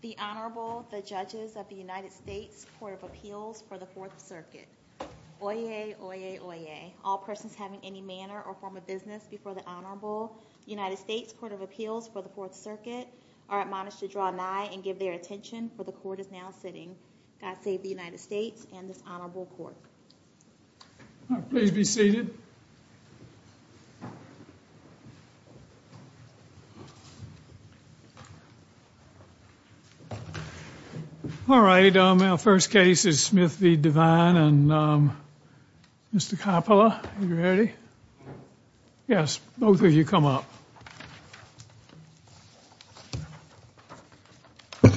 The Honorable, the Judges of the United States Court of Appeals for the Fourth Circuit. Oyez, oyez, oyez. All persons having any manner or form of business before the Honorable United States Court of Appeals for the Fourth Circuit are admonished to draw nigh and give their attention, for the Court is now sitting. God save the United States and this Honorable Court. Please be seated. All right, our first case is Smith v. Devine and Mr. Coppola, are you ready? Yes, both of you come up. All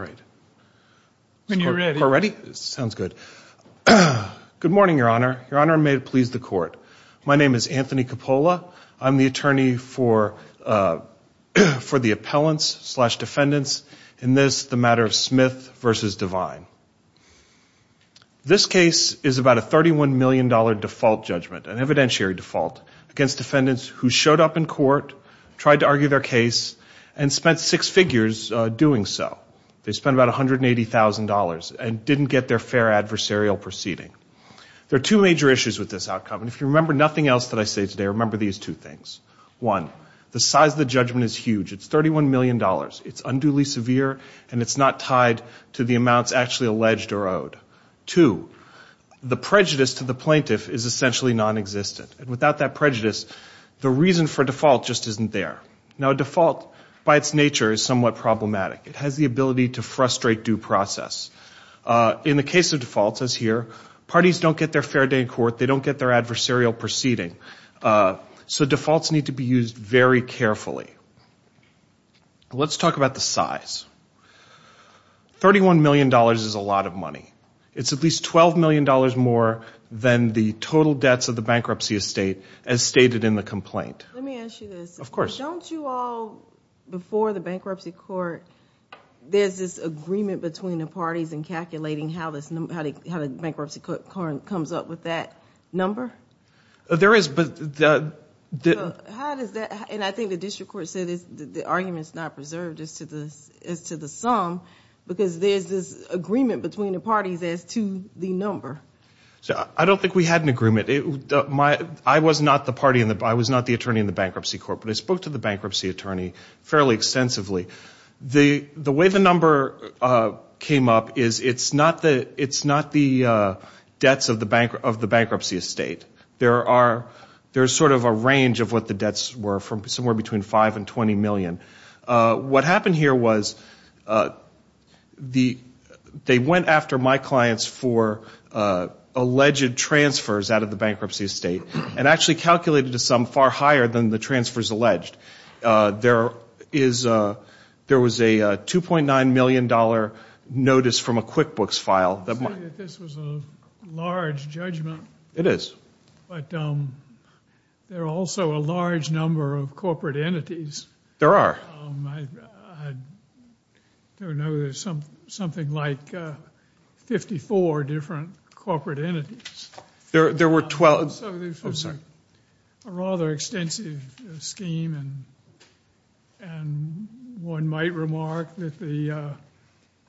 right, when you're ready, sounds good. Good morning, Your Honor. Your Honor, may it please the Court. My name is Anthony Coppola. I'm the attorney for the appellants slash defendants in this, the matter of Smith v. Devine. This case is about a $31 million default judgment, an evidentiary default, against defendants who showed up in court, tried to argue their case, and spent six figures doing so. They spent about $180,000 and didn't get their fair adversarial proceeding. There are two major issues with this outcome, and if you remember nothing else that I say today, remember these two things. One, the size of the judgment is huge. It's $31 million. It's unduly severe, and it's not tied to the amounts actually alleged or owed. Two, the prejudice to the plaintiff is essentially nonexistent. Without that prejudice, the reason for default just isn't there. Now, a default, by its nature, is somewhat problematic. It has the ability to frustrate due process. In the case of defaults, as here, parties don't get their fair day in court. They don't get their adversarial proceeding. So defaults need to be used very carefully. Let's talk about the size. $31 million is a lot of money. It's at least $12 million more than the total debts of the bankruptcy estate, as stated in the complaint. Let me ask you this. Of course. Don't you all, before the bankruptcy court, there's this agreement between the parties in calculating how the bankruptcy court comes up with that number? There is, but the... I think the district court said the argument's not preserved as to the sum, because there's this agreement between the parties as to the number. I don't think we had an agreement. I was not the attorney in the bankruptcy court, but I spoke to the bankruptcy attorney fairly extensively. The way the number came up is it's not the debts of the bankruptcy estate. There's sort of a range of what the debts were, from somewhere between $5 and $20 million. What happened here was they went after my clients for alleged transfers out of the bankruptcy estate, and actually calculated a sum far higher than the transfers alleged. There was a $2.9 million notice from a QuickBooks file. I see that this was a large judgment. It is. But there are also a large number of corporate entities. There are. I don't know, there's something like 54 different corporate entities. There were 12... I'm sorry. So there's a rather extensive scheme, and one might remark that the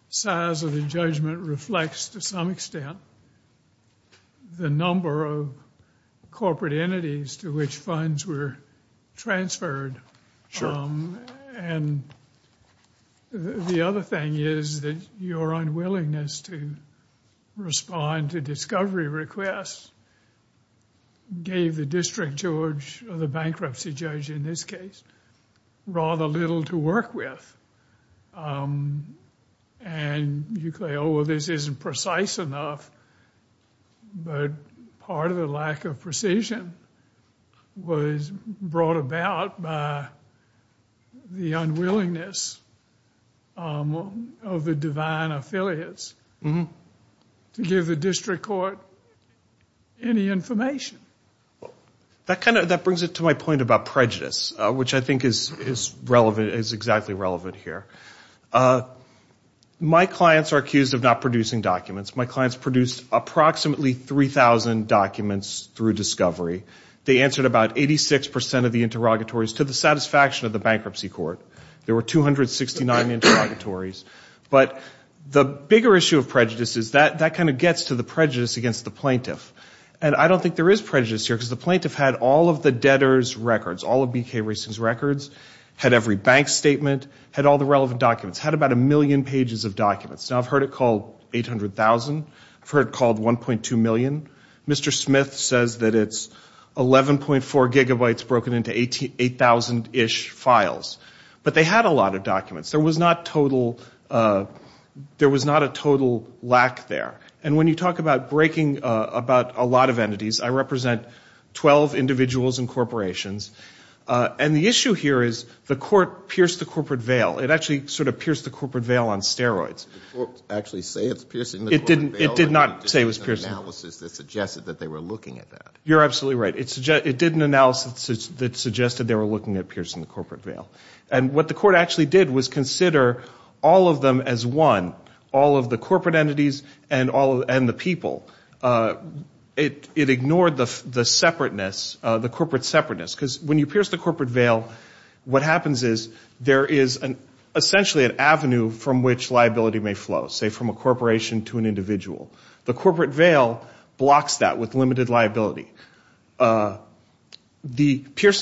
size of the judgment reflects to some extent the number of corporate entities to which funds were transferred. The other thing is that your unwillingness to respond to discovery requests gave the District Judge, or the bankruptcy judge in this case, rather little to work with. And you say, oh, well, this isn't precise enough, but part of the lack of precision was brought about by the unwillingness of the divine affiliates to give the District Court any information. That brings it to my point about prejudice, which I think is exactly relevant here. My clients are accused of not producing documents. My clients produced approximately 3,000 documents through discovery. They answered about 86 percent of the interrogatories to the satisfaction of the bankruptcy court. There were 269 interrogatories. But the bigger issue of prejudice is that that kind of gets to the prejudice against the plaintiff. And I don't think there is prejudice here, because the plaintiff had all of the debtor's records, all of BK Racing's records, had every bank statement, had all the relevant documents, had about a million pages of documents. Now, I've heard it called 800,000, I've heard it called 1.2 million. Mr. Smith says that it's 11.4 gigabytes broken into 8,000-ish files. But they had a lot of documents. There was not a total lack there. And when you talk about breaking about a lot of entities, I represent 12 individuals and corporations. And the issue here is the court pierced the corporate veil. It actually sort of pierced the corporate veil on steroids. Did the court actually say it's piercing the corporate veil? It did not say it was piercing. It did an analysis that suggested that they were looking at that. You're absolutely right. It did an analysis that suggested they were looking at piercing the corporate veil. And what the court actually did was consider all of them as one, all of the corporate entities and the people. It ignored the separateness, the corporate separateness. Because when you pierce the corporate veil, what happens is there is essentially an avenue from which liability may flow, say from a corporation to an individual. The corporate veil blocks that with limited liability. Piercing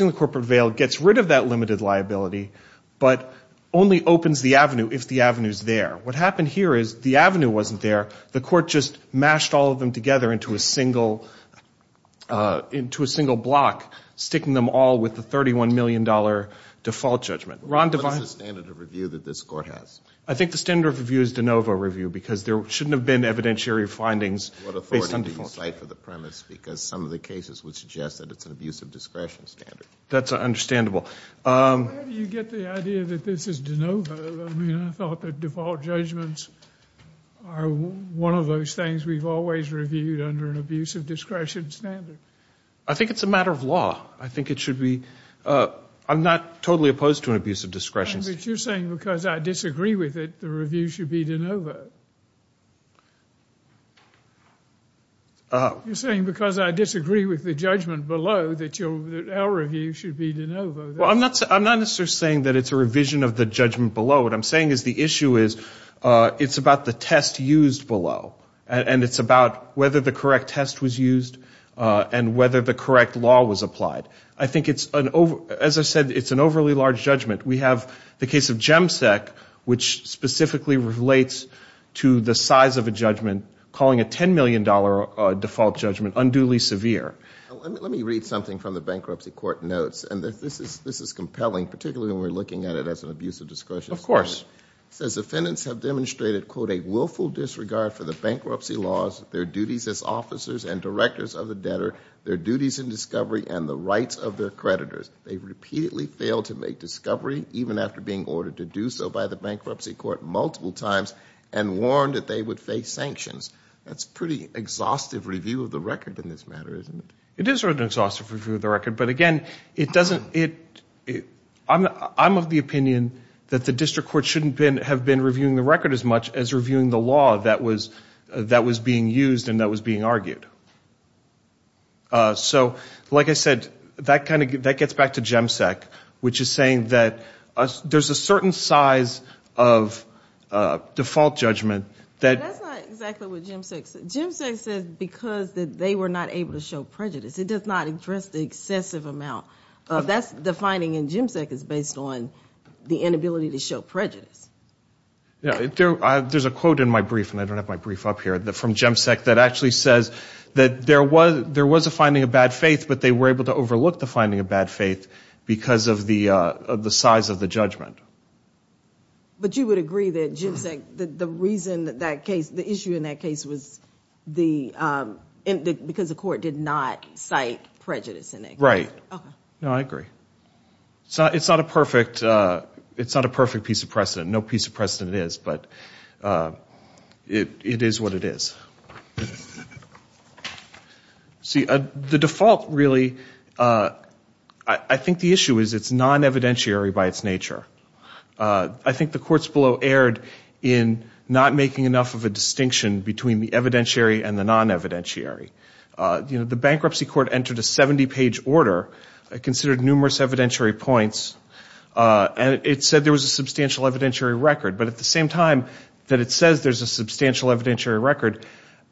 the corporate veil gets rid of that limited liability, but only opens the avenue if the avenue is there. What happened here is the avenue wasn't there. The court just mashed all of them together into a single block, sticking them all with the $31 million default judgment. Ron Devine? What is the standard of review that this court has? I think the standard of review is de novo review, because there shouldn't have been evidentiary findings based on default. What authority do you cite for the premise? Because some of the cases would suggest that it's an abuse of discretion standard. That's understandable. Where do you get the idea that this is de novo? I mean, I thought that default judgments are one of those things we've always reviewed under an abuse of discretion standard. I think it's a matter of law. I think it should be. I'm not totally opposed to an abuse of discretion. But you're saying because I disagree with it, the review should be de novo. You're saying because I disagree with the judgment below, that our review should be de novo. Well, I'm not necessarily saying that it's a revision of the judgment below. What I'm saying is the issue is, it's about the test used below. And it's about whether the correct test was used and whether the correct law was applied. I think it's, as I said, it's an overly large judgment. We have the case of GEMSEC, which specifically relates to the size of a judgment calling a $10 million default judgment unduly severe. Let me read something from the bankruptcy court notes. And this is compelling, particularly when we're looking at it as an abuse of discretion. Of course. It says, defendants have demonstrated, quote, a willful disregard for the bankruptcy laws, their duties as officers and directors of the debtor, their duties in discovery, and the rights of their creditors. They've repeatedly failed to make discovery, even after being ordered to do so by the bankruptcy court multiple times, and warned that they would face sanctions. That's pretty exhaustive review of the record in this matter, isn't it? It is an exhaustive review of the record. But again, it doesn't, it, I'm of the opinion that the district court shouldn't have been reviewing the record as much as reviewing the law that was being used and that was being argued. So, like I said, that kind of, that gets back to GEMSEC, which is saying that there's a certain size of default judgment. That's not exactly what GEMSEC says. GEMSEC says because they were not able to show prejudice. It does not address the excessive amount of, that's the finding in GEMSEC is based on the inability to show prejudice. There's a quote in my brief, and I don't have my brief up here, from GEMSEC that actually says that there was a finding of bad faith, but they were able to overlook the finding of bad faith because of the size of the judgment. But you would agree that GEMSEC, the reason that that case, the issue in that case was the, because the court did not cite prejudice in it. Okay. No, I agree. It's not a perfect, it's not a perfect piece of precedent. No piece of precedent it is, but it is what it is. See, the default really, I think the issue is it's non-evidentiary by its nature. I think the courts below erred in not making enough of a distinction between the evidentiary and the non-evidentiary. You know, the bankruptcy court entered a 70-page order, considered numerous evidentiary points, and it said there was a substantial evidentiary record. But at the same time that it says there's a substantial evidentiary record,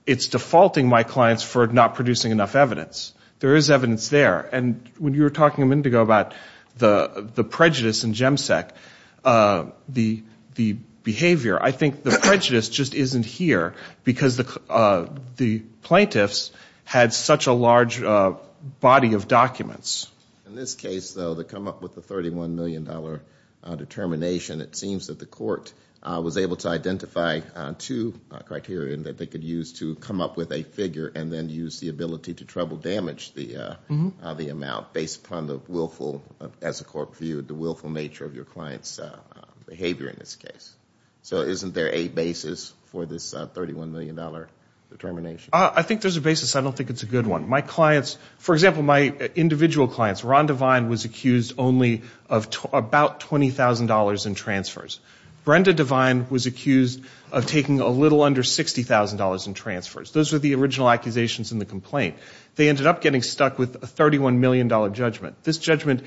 it's defaulting my clients for not producing enough evidence. There is evidence there. And when you were talking a minute ago about the prejudice in GEMSEC, the behavior, I think the prejudice just isn't here because the plaintiffs had such a large body of documents. In this case, though, to come up with the $31 million determination, it seems that the court was able to identify two criteria that they could use to come up with a figure and then use the ability to trouble damage the amount based upon the willful, as the court viewed, the willful nature of your client's behavior in this case. So isn't there a basis for this $31 million determination? I think there's a basis. I don't think it's a good one. My clients, for example, my individual clients, Ron Devine was accused only of about $20,000 in transfers. Brenda Devine was accused of taking a little under $60,000 in transfers. Those were the original accusations in the complaint. They ended up getting stuck with a $31 million judgment. This judgment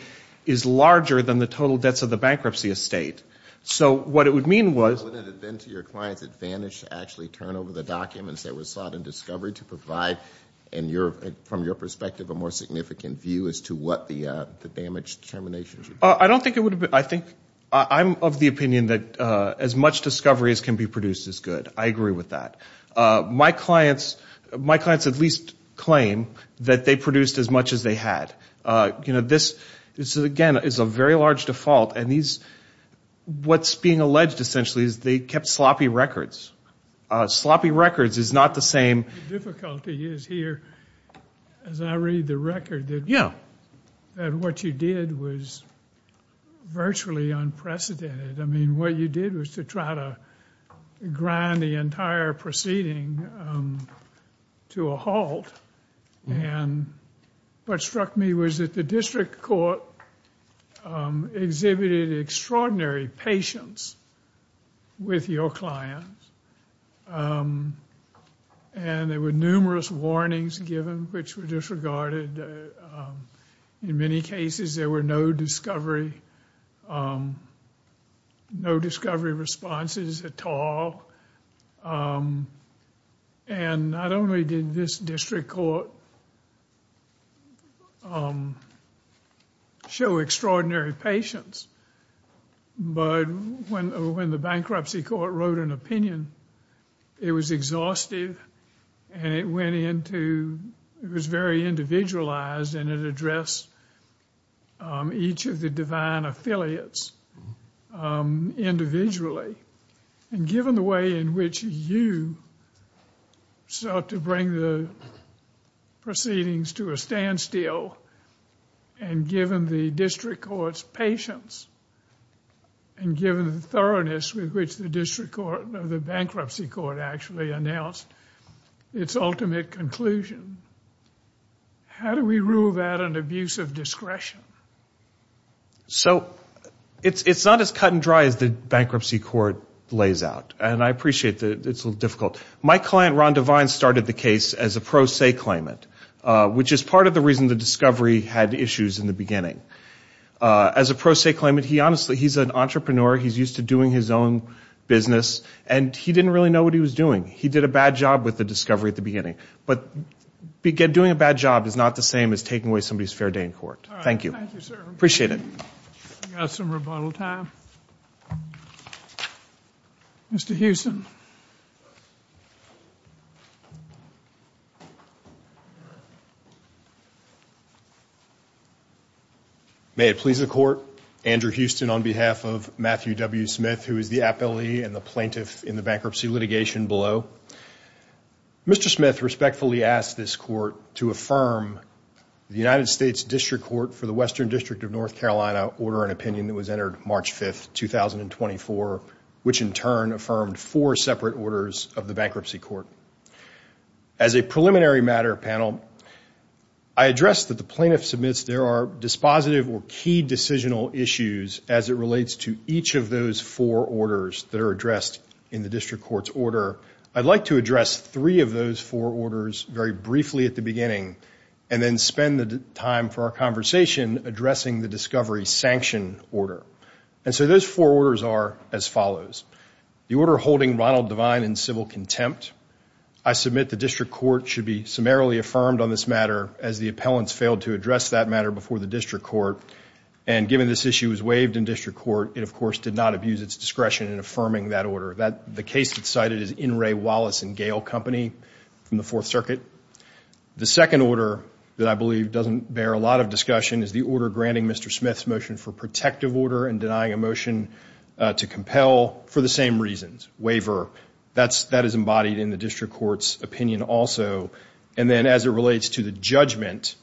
is larger than the total debts of the bankruptcy estate. So what it would mean was... Wouldn't it have been to your client's advantage to actually turn over the documents that were sought in discovery to provide, from your perspective, a more significant view as to what the damage determination should be? I don't think it would have been. I think I'm of the opinion that as much discovery as can be produced is good. I agree with that. My clients at least claim that they produced as much as they had. This, again, is a very large default. And what's being alleged essentially is they kept sloppy records. Sloppy records is not the same... The difficulty is here, as I read the record, that what you did was virtually unprecedented. I mean, what you did was to try to grind the entire proceeding to a halt. And what struck me was that the district court exhibited extraordinary patience with your clients. And there were numerous warnings given which were disregarded. In many cases, there were no discovery responses at all. And not only did this district court show extraordinary patience, but when the bankruptcy court wrote an opinion, it was exhaustive and it went into... It was very individualized and it addressed each of the divine affiliates individually. And given the way in which you sought to bring the proceedings to a standstill, and given the district court's patience, and given the thoroughness with which the bankruptcy court actually announced its ultimate conclusion, how do we rule that an abuse of discretion? So, it's not as cut and dry as the bankruptcy court lays out. And I appreciate that it's a little difficult. My client, Ron Devine, started the case as a pro se claimant, which is part of the reason the discovery had issues in the beginning. As a pro se claimant, he honestly... He's an entrepreneur, he's used to doing his own business, and he didn't really know what he was doing. He did a bad job with the discovery at the beginning. But doing a bad job is not the same as taking away somebody's fair day in court. Thank you. Thank you, sir. Appreciate it. We've got some rebuttal time. Mr. Huston. May it please the court. Andrew Huston on behalf of Matthew W. Smith, who is the appellee and the plaintiff in the bankruptcy litigation below. Mr. Smith respectfully asked this court to affirm the United States District Court for the Western District of North Carolina order and opinion that was entered March 5th, 2024, which in turn affirmed four separate orders of the bankruptcy court. As a preliminary matter, panel, I address that the plaintiff submits there are dispositive or key decisional issues as it relates to each of those four orders that are addressed in the district court's order. I'd like to address three of those four orders very briefly at the beginning and then spend the time for our conversation addressing the discovery sanction order. And so those four orders are as follows. The order holding Ronald Devine in civil contempt. I submit the district court should be summarily affirmed on this matter as the appellants failed to address that matter before the district court. And given this issue was waived in district court, it of course did not abuse its discretion in affirming that order. The case that's cited is N. Ray Wallace and Gale Company from the Fourth Circuit. The second order that I believe doesn't bear a lot of discussion is the order granting Mr. Smith's motion for protective order and denying a motion to compel for the same reasons, waiver. That is embodied in the district court's opinion also. And then as it relates to the judgment,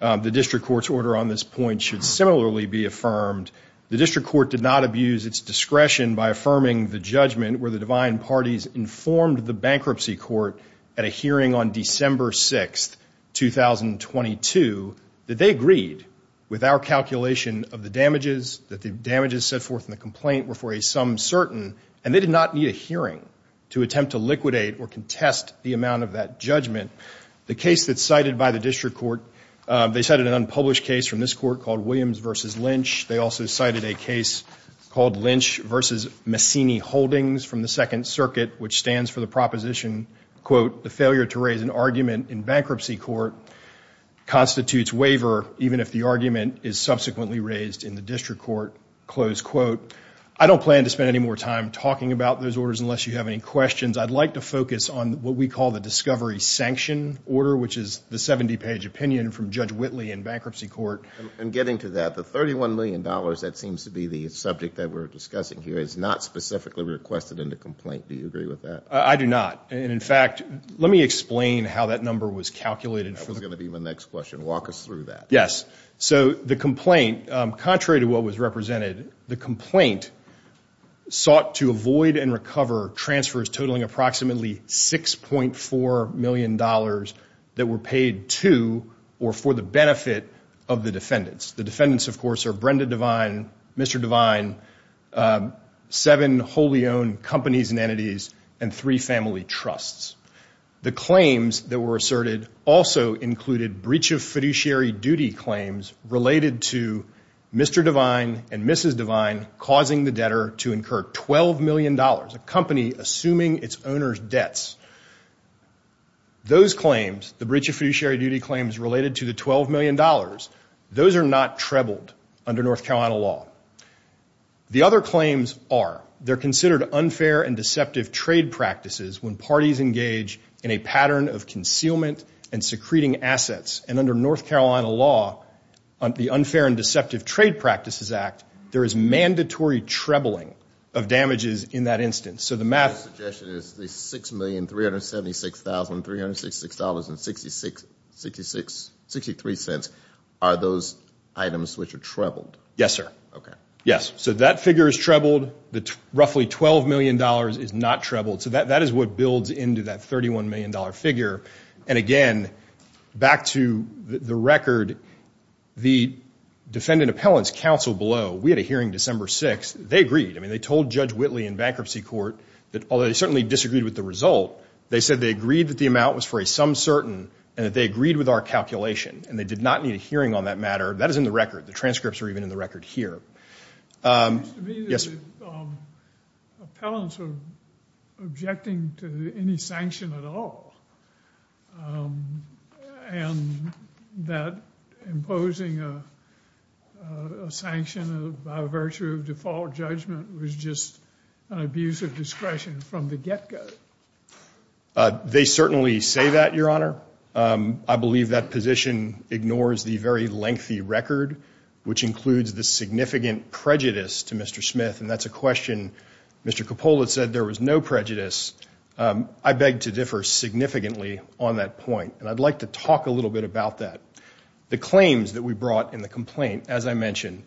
the district court's order on this point should similarly be affirmed. The district court did not abuse its discretion by affirming the judgment where the Devine parties informed the bankruptcy court at a hearing on December 6, 2022, that they agreed with our calculation of the damages, that the damages set forth in the complaint were for a sum certain, and they did not need a hearing to attempt to liquidate or contest the amount of that judgment. The case that's cited by the district court, they cited an unpublished case from this court called Williams v. Lynch. They also cited a case called Lynch v. Massini-Holdings from the Second Circuit, which stands for the proposition, quote, the failure to raise an argument in bankruptcy court constitutes waiver even if the argument is subsequently raised in the district court, close quote. I don't plan to spend any more time talking about those orders unless you have any questions. I'd like to focus on what we call the discovery sanction order, which is the 70-page opinion from Judge Whitley in bankruptcy court. In getting to that, the $31 million, that seems to be the subject that we're discussing here, is not specifically requested in the complaint. Do you agree with that? I do not. In fact, let me explain how that number was calculated. That was going to be my next question. Walk us through that. Yes. So the complaint, contrary to what was represented, the complaint sought to avoid and recover transfers totaling approximately $6.4 million that were paid to or for the benefit of the defendants. The defendants, of course, are Brenda Devine, Mr. Devine, seven wholly owned companies and entities, and three family trusts. The claims that were asserted also included breach of fiduciary duty claims related to Mr. Devine and Mrs. Devine causing the debtor to incur $12 million, a company assuming its owner's debts. Those claims, the breach of fiduciary duty claims related to the $12 million, those are not trebled under North Carolina law. The other claims are, they're considered unfair and deceptive trade practices when parties engage in a pattern of concealment and secreting assets. And under North Carolina law, the Unfair and Deceptive Trade Practices Act, there is mandatory trebling of damages in that instance. My suggestion is the $6,376,366.66 are those items which are trebled? Yes, sir. Yes, so that figure is trebled. The roughly $12 million is not trebled. So that is what builds into that $31 million figure. And again, back to the record, the Defendant Appellants Council below, we had a hearing December 6th. They agreed. I mean, they told Judge Whitley in bankruptcy court that although they certainly disagreed with the result, they said they agreed that the amount was for a some certain and that they agreed with our calculation. And they did not need a hearing on that matter. That is in the record. The transcripts are even in the record here. It seems to me that the appellants are objecting to any sanction at all and that imposing a sanction by virtue of default judgment was just an abuse of discretion from the get-go. They certainly say that, Your Honor. I believe that position ignores the very lengthy record, which includes the significant prejudice to Mr. Smith. And that is a question Mr. Coppola said there was no prejudice. I beg to differ significantly on that point. And I'd like to talk a little bit about that. The claims that we brought in the complaint, as I mentioned,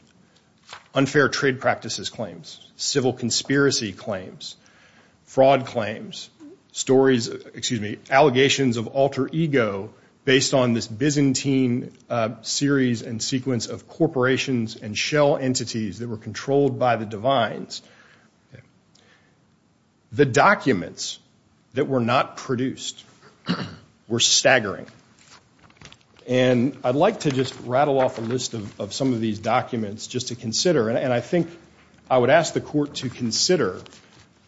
unfair trade practices claims, civil conspiracy claims, fraud claims, stories, excuse me, allegations of alter ego based on this Byzantine series and sequence of corporations and shell entities that were controlled by the divines. The documents that were not produced were staggering. And I'd like to just rattle off a list of some of these documents just to consider. And I think I would ask the Court to consider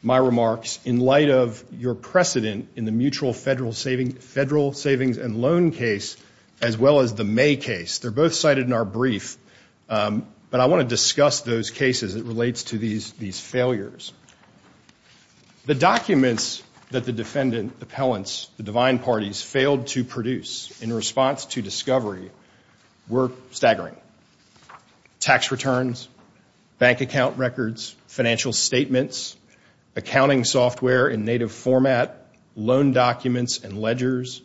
my remarks in light of your precedent in the mutual federal savings and loan case as well as the May case. They're both cited in our brief. But I want to discuss those cases. It relates to these failures. The documents that the defendant, the appellants, the divine parties, failed to produce in response to discovery were staggering. Tax returns, bank account records, financial statements, accounting software in native format, loan documents and ledgers,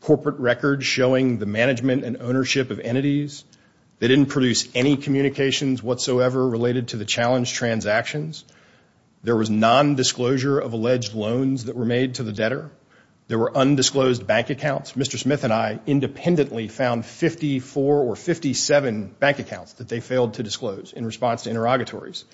corporate records showing the management and ownership of entities. They didn't produce any communications whatsoever related to the challenged transactions. There was nondisclosure of alleged loans that were made to the debtor. There were undisclosed bank accounts. Mr. Smith and I independently found 54 or 57 bank accounts that they failed to disclose in response to interrogatories.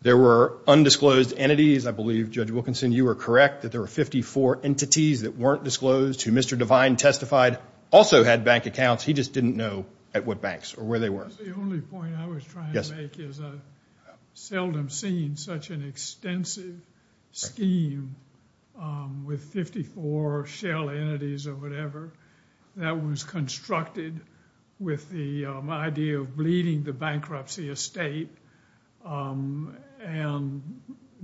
There were undisclosed entities. I believe, Judge Wilkinson, you were correct that there were 54 entities that weren't disclosed who Mr. Divine testified also had bank accounts. He just didn't know at what banks or where they were. The only point I was trying to make is I've seldom seen such an extensive scheme with 54 shell entities or whatever that was constructed with the idea of bleeding the bankruptcy estate and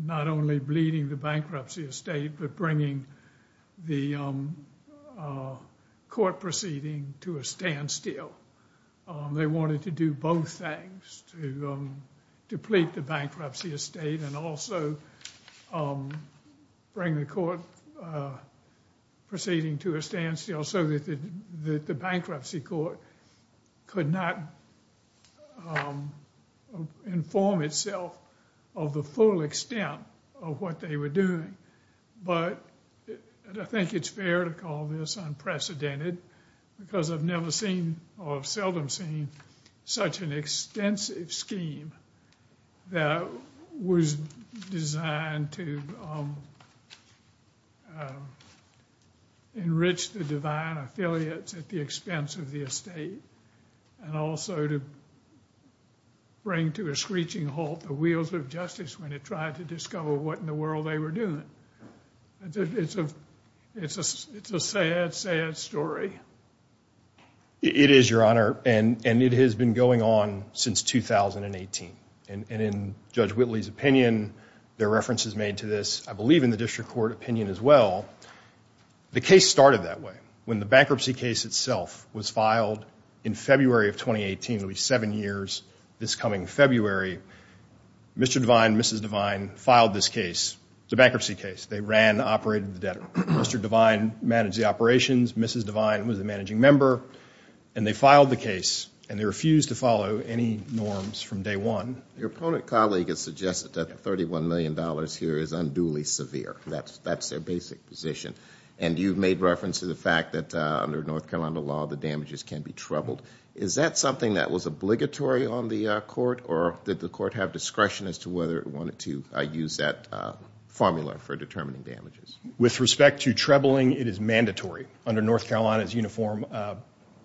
not only bleeding the bankruptcy estate but bringing the court proceeding to a standstill. They wanted to do both things, to deplete the bankruptcy estate and also bring the court proceeding to a standstill so that the bankruptcy court could not inform itself of the full extent of what they were doing. But I think it's fair to call this unprecedented because I've never seen or seldom seen such an extensive scheme that was designed to enrich the Divine affiliates at the expense of the estate and also to bring to a screeching halt the wheels of justice when it tried to discover what in the world they were doing. It's a sad, sad story. It is, Your Honor, and it has been going on since 2018. And in Judge Whitley's opinion, there are references made to this, I believe in the district court opinion as well, the case started that way. When the bankruptcy case itself was filed in February of 2018, it'll be seven years this coming February, Mr. Divine, Mrs. Divine filed this case. It's a bankruptcy case. They ran, operated the debtor. Mr. Divine managed the operations. Mrs. Divine was the managing member. And they filed the case, and they refused to follow any norms from day one. Your opponent colleague has suggested that $31 million here is unduly severe. That's their basic position. And you've made reference to the fact that under North Carolina law, the damages can be troubled. Is that something that was obligatory on the court, or did the court have discretion as to whether it wanted to use that formula for determining damages? With respect to troubling, it is mandatory. Under North Carolina's Uniform,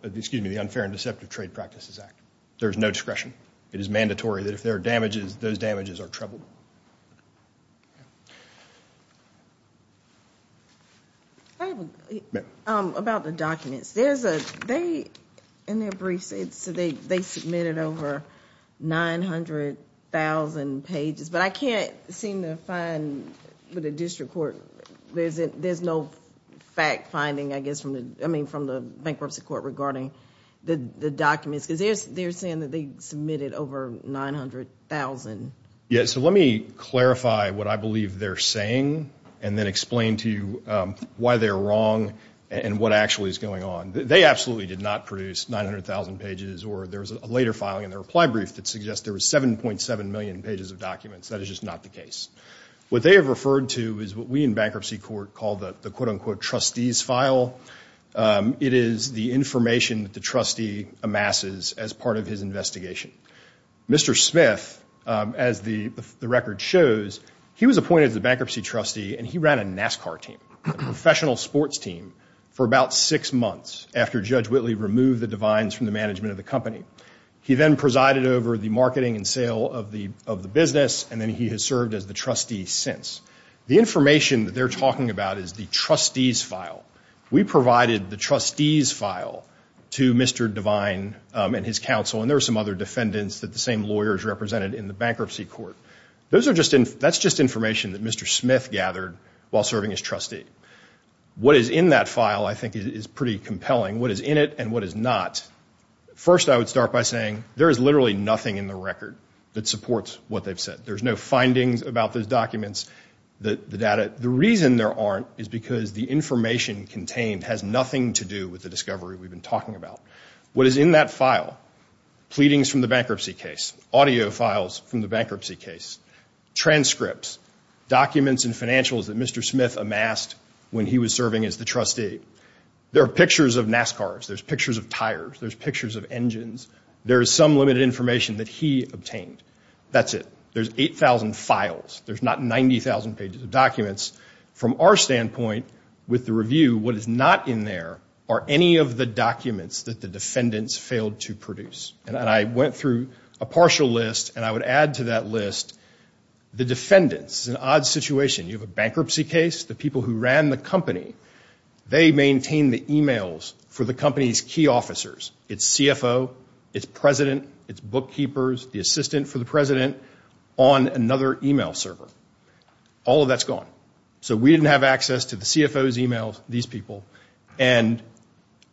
excuse me, Unfair and Deceptive Trade Practices Act, there is no discretion. It is mandatory that if there are damages, those damages are troubled. About the documents, there's a, they, in their briefs, they submitted over 900,000 pages. But I can't seem to find, with the district court, there's no fact-finding, I guess, I mean, from the bankruptcy court regarding the documents. Because they're saying that they submitted over 900,000. Yeah, so let me clarify what I believe they're saying and then explain to you why they're wrong and what actually is going on. They absolutely did not produce 900,000 pages, or there was a later filing in their reply brief that suggests there was 7.7 million pages of documents. That is just not the case. What they have referred to is what we in bankruptcy court call the quote-unquote trustees file. It is the information that the trustee amasses as part of his investigation. Mr. Smith, as the record shows, he was appointed as the bankruptcy trustee, and he ran a NASCAR team, a professional sports team, for about six months after Judge Whitley removed the Devines from the management of the company. He then presided over the marketing and sale of the business, and then he has served as the trustee since. The information that they're talking about is the trustees file. We provided the trustees file to Mr. Devine and his counsel, and there were some other defendants that the same lawyers represented in the bankruptcy court. That's just information that Mr. Smith gathered while serving as trustee. What is in that file, I think, is pretty compelling. What is in it and what is not. First, I would start by saying there is literally nothing in the record that supports what they've said. There's no findings about those documents, the data. The reason there aren't is because the information contained has nothing to do with the discovery we've been talking about. What is in that file, pleadings from the bankruptcy case, audio files from the bankruptcy case, transcripts, documents and financials that Mr. Smith amassed when he was serving as the trustee. There are pictures of NASCARs. There's pictures of tires. There's pictures of engines. There is some limited information that he obtained. That's it. There's 8,000 files. There's not 90,000 pages of documents. From our standpoint, with the review, what is not in there are any of the documents that the defendants failed to produce. And I went through a partial list and I would add to that list the defendants. It's an odd situation. You have a bankruptcy case. The people who ran the company, they maintained the emails for the company's key officers. Its CFO, its president, its bookkeepers, the assistant for the president on another email server. All of that's gone. So we didn't have access to the CFO's emails, these people. And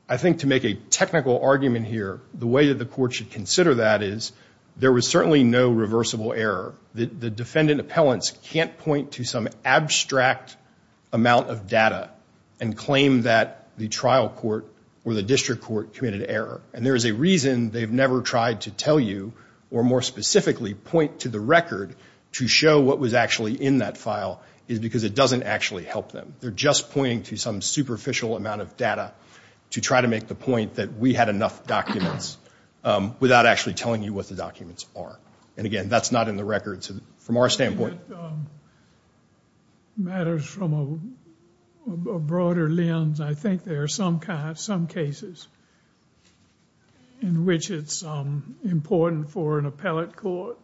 I think to make a technical argument here, the way that the court should consider that is there was certainly no reversible error. The defendant appellants can't point to some abstract amount of data and claim that the trial court or the district court committed error. And there is a reason they've never tried to tell you or more specifically point to the record to show what was actually in that file is because it doesn't actually help them. They're just pointing to some superficial amount of data to try to make the point that we had enough documents without actually telling you what the documents are. And again, that's not in the records. From our standpoint. It matters from a broader lens. I think there are some cases in which it's important for an appellate court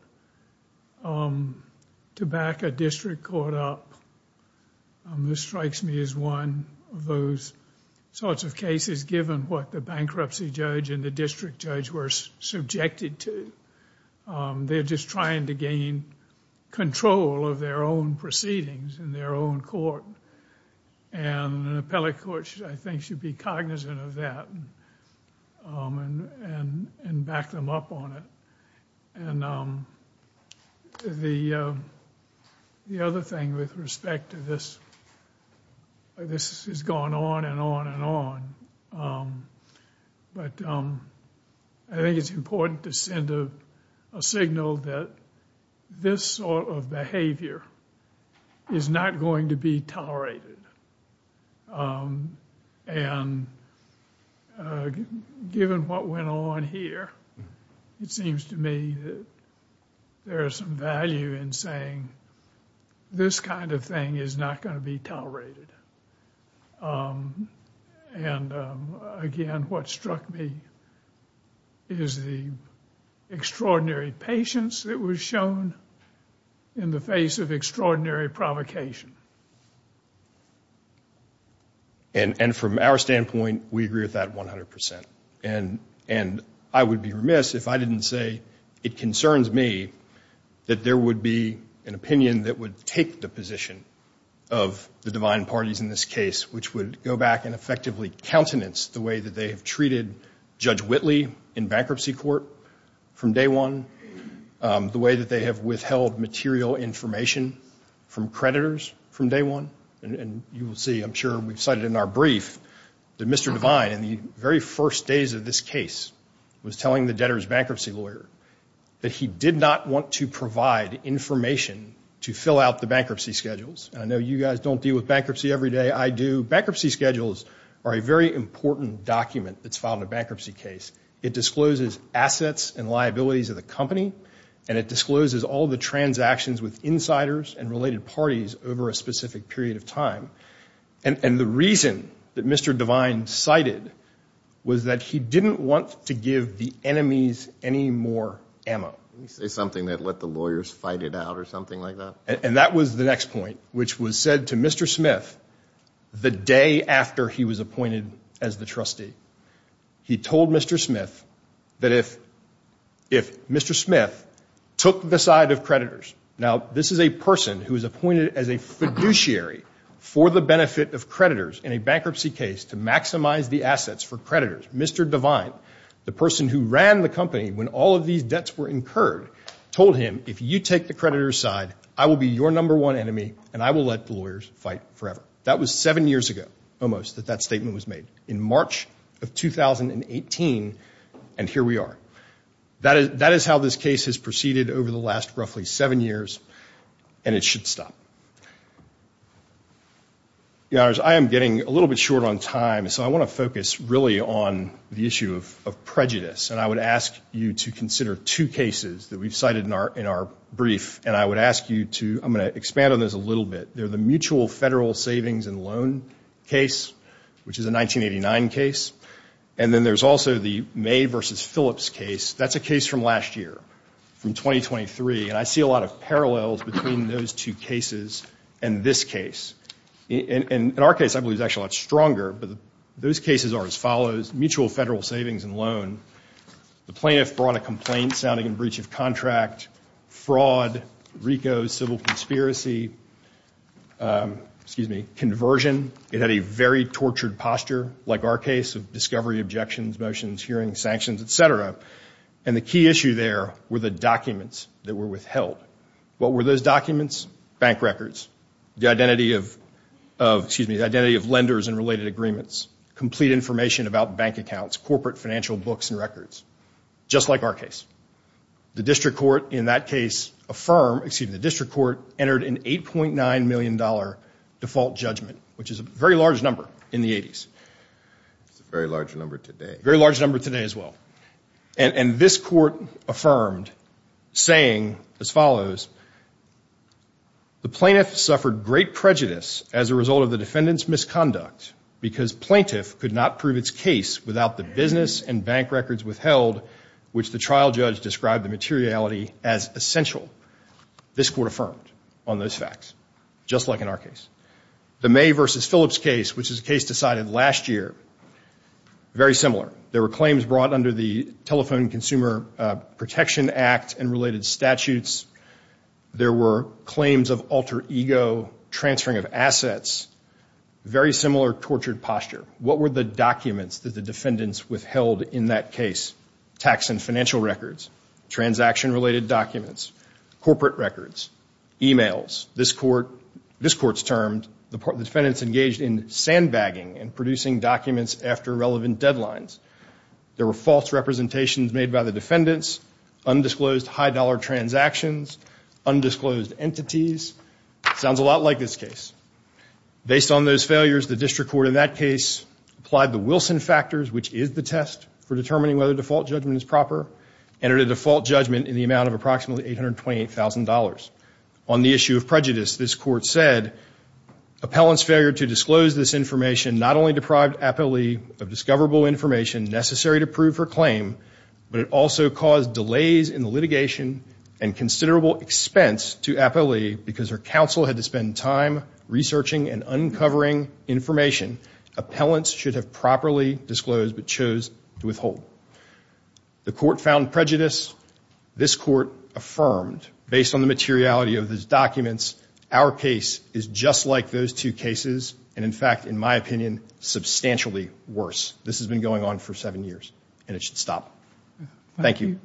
to back a district court up. This strikes me as one of those sorts of cases given what the bankruptcy judge and the district judge were subjected to. They're just trying to gain control of their own proceedings in their own court. And an appellate court, I think, should be cognizant of that and back them up on it. And the other thing with respect to this, this has gone on and on and on, but I think it's important to send a signal that this sort of behavior is not going to be tolerated. And given what went on here, it seems to me that there is some value in saying this kind of thing is not going to be tolerated. And again, what struck me is the extraordinary patience that was shown in the face of extraordinary provocation. And from our standpoint, we agree with that 100%. And I would be remiss if I didn't say it concerns me that there would be an opinion that would take the position of the divine parties in this case, which would go back and effectively countenance the way that they have treated Judge Whitley in bankruptcy court from day one, the way that they have withheld material information from creditors from day one. And you will see, I'm sure we've cited in our brief, that Mr. Divine in the very first days of this case was telling the debtor's bankruptcy lawyer that he did not want to provide information to fill out the bankruptcy schedules. And I know you guys don't deal with bankruptcy every day. I do. But the bankruptcy schedules are a very important document that's filed in a bankruptcy case. It discloses assets and liabilities of the company, and it discloses all the transactions with insiders and related parties over a specific period of time. And the reason that Mr. Divine cited was that he didn't want to give the enemies any more ammo. You say something that let the lawyers fight it out or something like that? And that was the next point, which was said to Mr. Smith, the day after he was appointed as the trustee. He told Mr. Smith that if Mr. Smith took the side of creditors. Now, this is a person who was appointed as a fiduciary for the benefit of creditors in a bankruptcy case to maximize the assets for creditors. Mr. Divine, the person who ran the company when all of these debts were incurred, told him, if you take the creditor's side, I will be your number one enemy, and I will let the lawyers fight forever. That was seven years ago, almost, that that statement was made. In March of 2018, and here we are. That is how this case has proceeded over the last roughly seven years, and it should stop. Your Honors, I am getting a little bit short on time, so I want to focus really on the issue of prejudice. And I would ask you to consider two cases that we've cited in our brief, and I would ask you to, I'm going to expand on this a little bit. They're the Mutual Federal Savings and Loan case, which is a 1989 case, and then there's also the May versus Phillips case. That's a case from last year, from 2023, and I see a lot of parallels between those two cases and this case. In our case, I believe it's actually a lot stronger, but those cases are as follows. Mutual Federal Savings and Loan, the plaintiff brought a complaint sounding in breach of contract, fraud, RICO, civil conspiracy, excuse me, conversion. It had a very tortured posture, like our case, of discovery, objections, motions, hearings, sanctions, et cetera. And the key issue there were the documents that were withheld. What were those documents? Bank records, the identity of, excuse me, the identity of lenders and related agreements, complete information about bank accounts, corporate financial books and records, just like our case. The district court in that case affirmed, excuse me, the district court entered an $8.9 million default judgment, which is a very large number in the 80s. It's a very large number today. Very large number today as well. And this court affirmed, saying as follows, the plaintiff suffered great prejudice as a result of the defendant's misconduct because plaintiff could not prove its case without the business and bank records withheld, which the trial judge described the materiality as essential. This court affirmed on those facts, just like in our case. The May versus Phillips case, which is a case decided last year, very similar. There were claims brought under the Telephone Consumer Protection Act and related statutes. There were claims of alter ego, transferring of assets, very similar tortured posture. What were the documents that the defendants withheld in that case? Tax and financial records, transaction-related documents, corporate records, e-mails. This court's termed the defendants engaged in sandbagging and producing documents after relevant deadlines. There were false representations made by the defendants, undisclosed high-dollar transactions, undisclosed entities. Sounds a lot like this case. Based on those failures, the district court in that case applied the Wilson factors, which is the test for determining whether default judgment is proper, entered a default judgment in the amount of approximately $828,000. On the issue of prejudice, this court said, appellant's failure to disclose this information not only deprived Apolli of discoverable information necessary to prove her claim, but it also caused delays in the litigation and considerable expense to Apolli because her counsel had to spend time researching and uncovering information appellants should have properly disclosed but chose to withhold. The court found prejudice. This court affirmed, based on the materiality of these documents, our case is just like those two cases and, in fact, in my opinion, substantially worse. This has been going on for seven years, and it should stop. Thank you.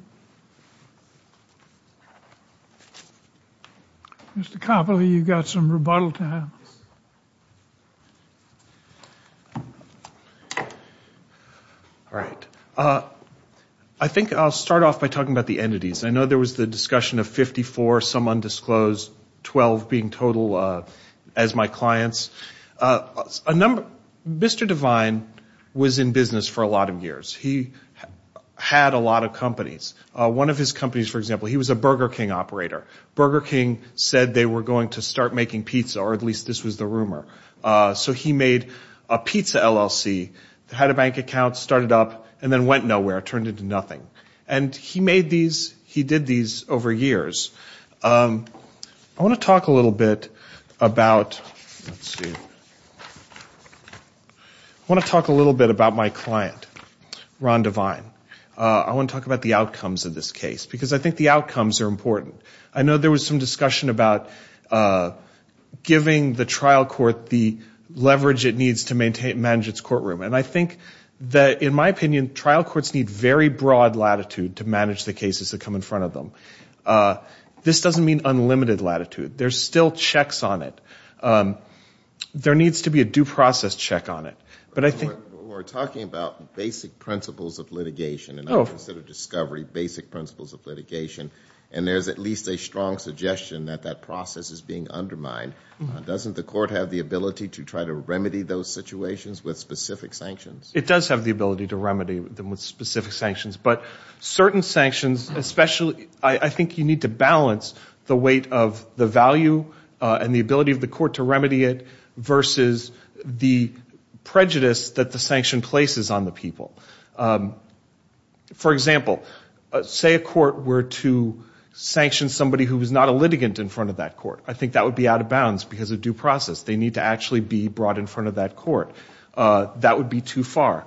Mr. Copley, you've got some rebuttal time. All right. I think I'll start off by talking about the entities. I know there was the discussion of 54, some undisclosed, 12 being total as my clients. Mr. Devine was in business for a lot of years. He had a lot of companies. One of his companies, for example, he was a Burger King operator. Burger King said they were going to start making pizza, or at least this was the rumor. So he made a pizza LLC, had a bank account, started up, and then went nowhere, turned into nothing. And he made these. He did these over years. I want to talk a little bit about my client, Ron Devine. I want to talk about the outcomes of this case, because I think the outcomes are important. I know there was some discussion about giving the trial court the leverage it needs to manage its courtroom. And I think that, in my opinion, trial courts need very broad latitude to manage the cases that come in front of them. This doesn't mean unlimited latitude. There's still checks on it. There needs to be a due process check on it. We're talking about basic principles of litigation, and I consider discovery basic principles of litigation. And there's at least a strong suggestion that that process is being undermined. Doesn't the court have the ability to try to remedy those situations with specific sanctions? It does have the ability to remedy them with specific sanctions. But certain sanctions, especially, I think you need to balance the weight of the value and the ability of the court to remedy it versus the prejudice that the sanction places on the people. For example, say a court were to sanction somebody who was not a litigant in front of that court. I think that would be out of bounds because of due process. They need to actually be brought in front of that court. That would be too far.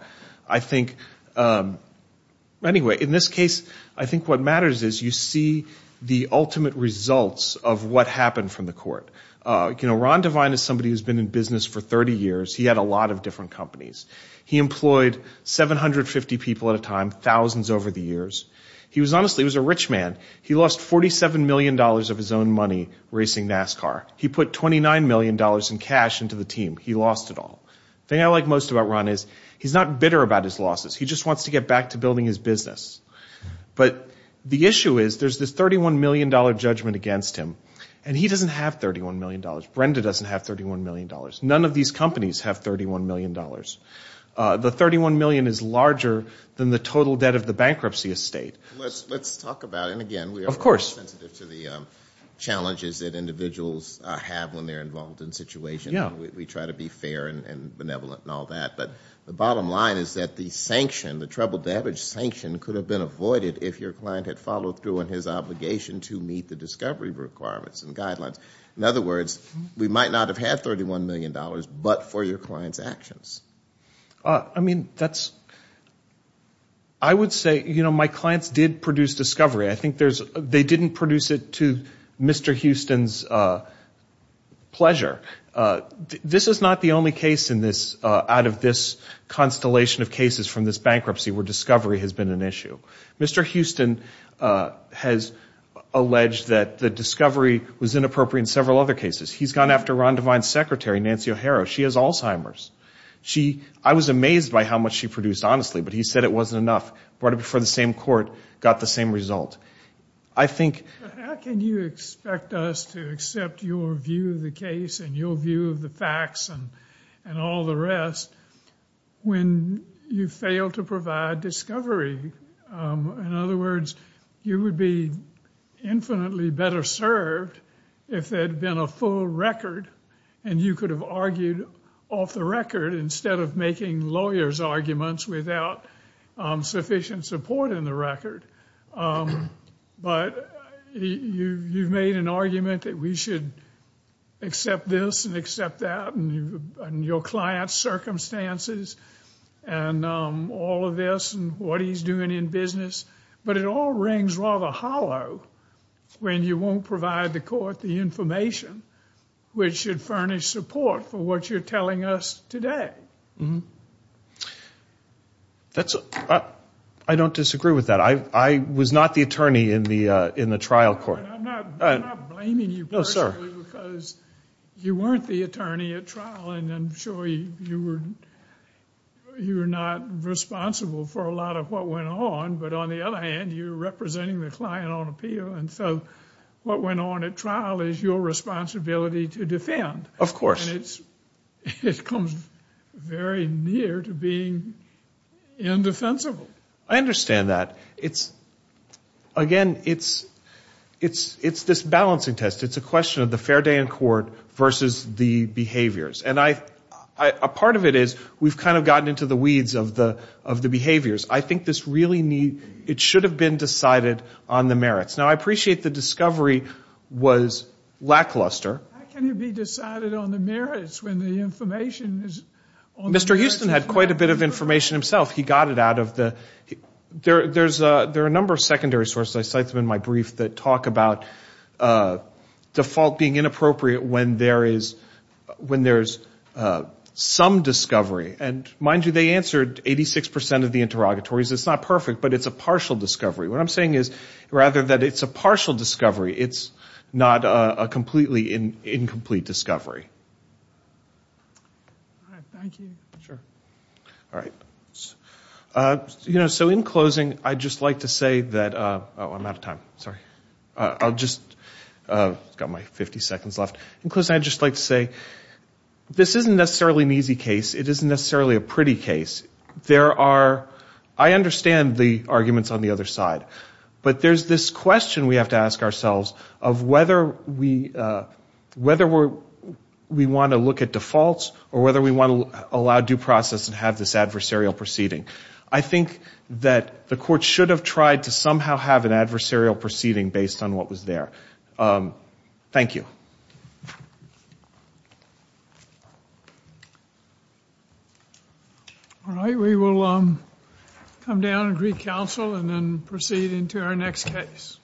Anyway, in this case, I think what matters is you see the ultimate results of what happened from the court. Ron Devine is somebody who's been in business for 30 years. He had a lot of different companies. He employed 750 people at a time, thousands over the years. He was honestly a rich man. He lost $47 million of his own money racing NASCAR. He put $29 million in cash into the team. He lost it all. The thing I like most about Ron is he's not bitter about his losses. He just wants to get back to building his business. But the issue is there's this $31 million judgment against him. And he doesn't have $31 million. Brenda doesn't have $31 million. None of these companies have $31 million. The $31 million is larger than the total debt of the bankruptcy estate. Let's talk about it again. We are sensitive to the challenges that individuals have when they're involved in situations. We try to be fair and benevolent and all that. But the bottom line is that the sanction, the trouble-damage sanction, could have been avoided if your client had followed through on his obligation to meet the discovery requirements and guidelines. In other words, we might not have had $31 million, but for your client's actions. I mean, that's, I would say, you know, my clients did produce discovery. I think they didn't produce it to Mr. Houston's pleasure. This is not the only case out of this constellation of cases from this bankruptcy where discovery has been an issue. Mr. Houston has alleged that the discovery was inappropriate in several other cases. He's gone after Ron Devine's secretary, Nancy O'Hara. She has Alzheimer's. I was amazed by how much she produced, honestly, but he said it wasn't enough. Right before the same court, got the same result. I think... How can you expect us to accept your view of the case and your view of the facts and all the rest when you fail to provide discovery? In other words, you would be infinitely better served if there had been a full record and you could have argued off the record instead of making lawyers' arguments without sufficient support in the record. But you've made an argument that we should accept this and accept that and your client's circumstances and all of this and what he's doing in business. But it all rings rather hollow when you won't provide the court the information which should furnish support for what you're telling us today. I don't disagree with that. I was not the attorney in the trial court. I'm not blaming you personally because you weren't the attorney at trial and I'm sure you were not responsible for a lot of what went on. But on the other hand, you're representing the client on appeal. And so what went on at trial is your responsibility to defend. Of course. And it comes very near to being indefensible. I understand that. Again, it's this balancing test. It's a question of the fair day in court versus the behaviors. And a part of it is we've kind of gotten into the weeds of the behaviors. I think it should have been decided on the merits. I appreciate the discovery was lackluster. How can it be decided on the merits when the information is on the merits? Mr. Houston had quite a bit of information himself. He got it out of the – there are a number of secondary sources I cite in my brief that talk about default being inappropriate when there is some discovery. And mind you, they answered 86 percent of the interrogatories. It's not perfect, but it's a partial discovery. What I'm saying is rather that it's a partial discovery, it's not a completely incomplete discovery. So in closing, I'd just like to say that – oh, I'm out of time. Sorry. I've got my 50 seconds left. In closing, I'd just like to say this isn't necessarily an easy case. It isn't necessarily a pretty case. There are – I understand the arguments on the other side, but there's this question we have to ask ourselves of whether we want to look at defaults or whether we want to allow due process and have this adversarial proceeding. I think that the court should have tried to somehow have an adversarial proceeding based on what was there. Thank you. All right, we will come down and recounsel and then proceed into our next case.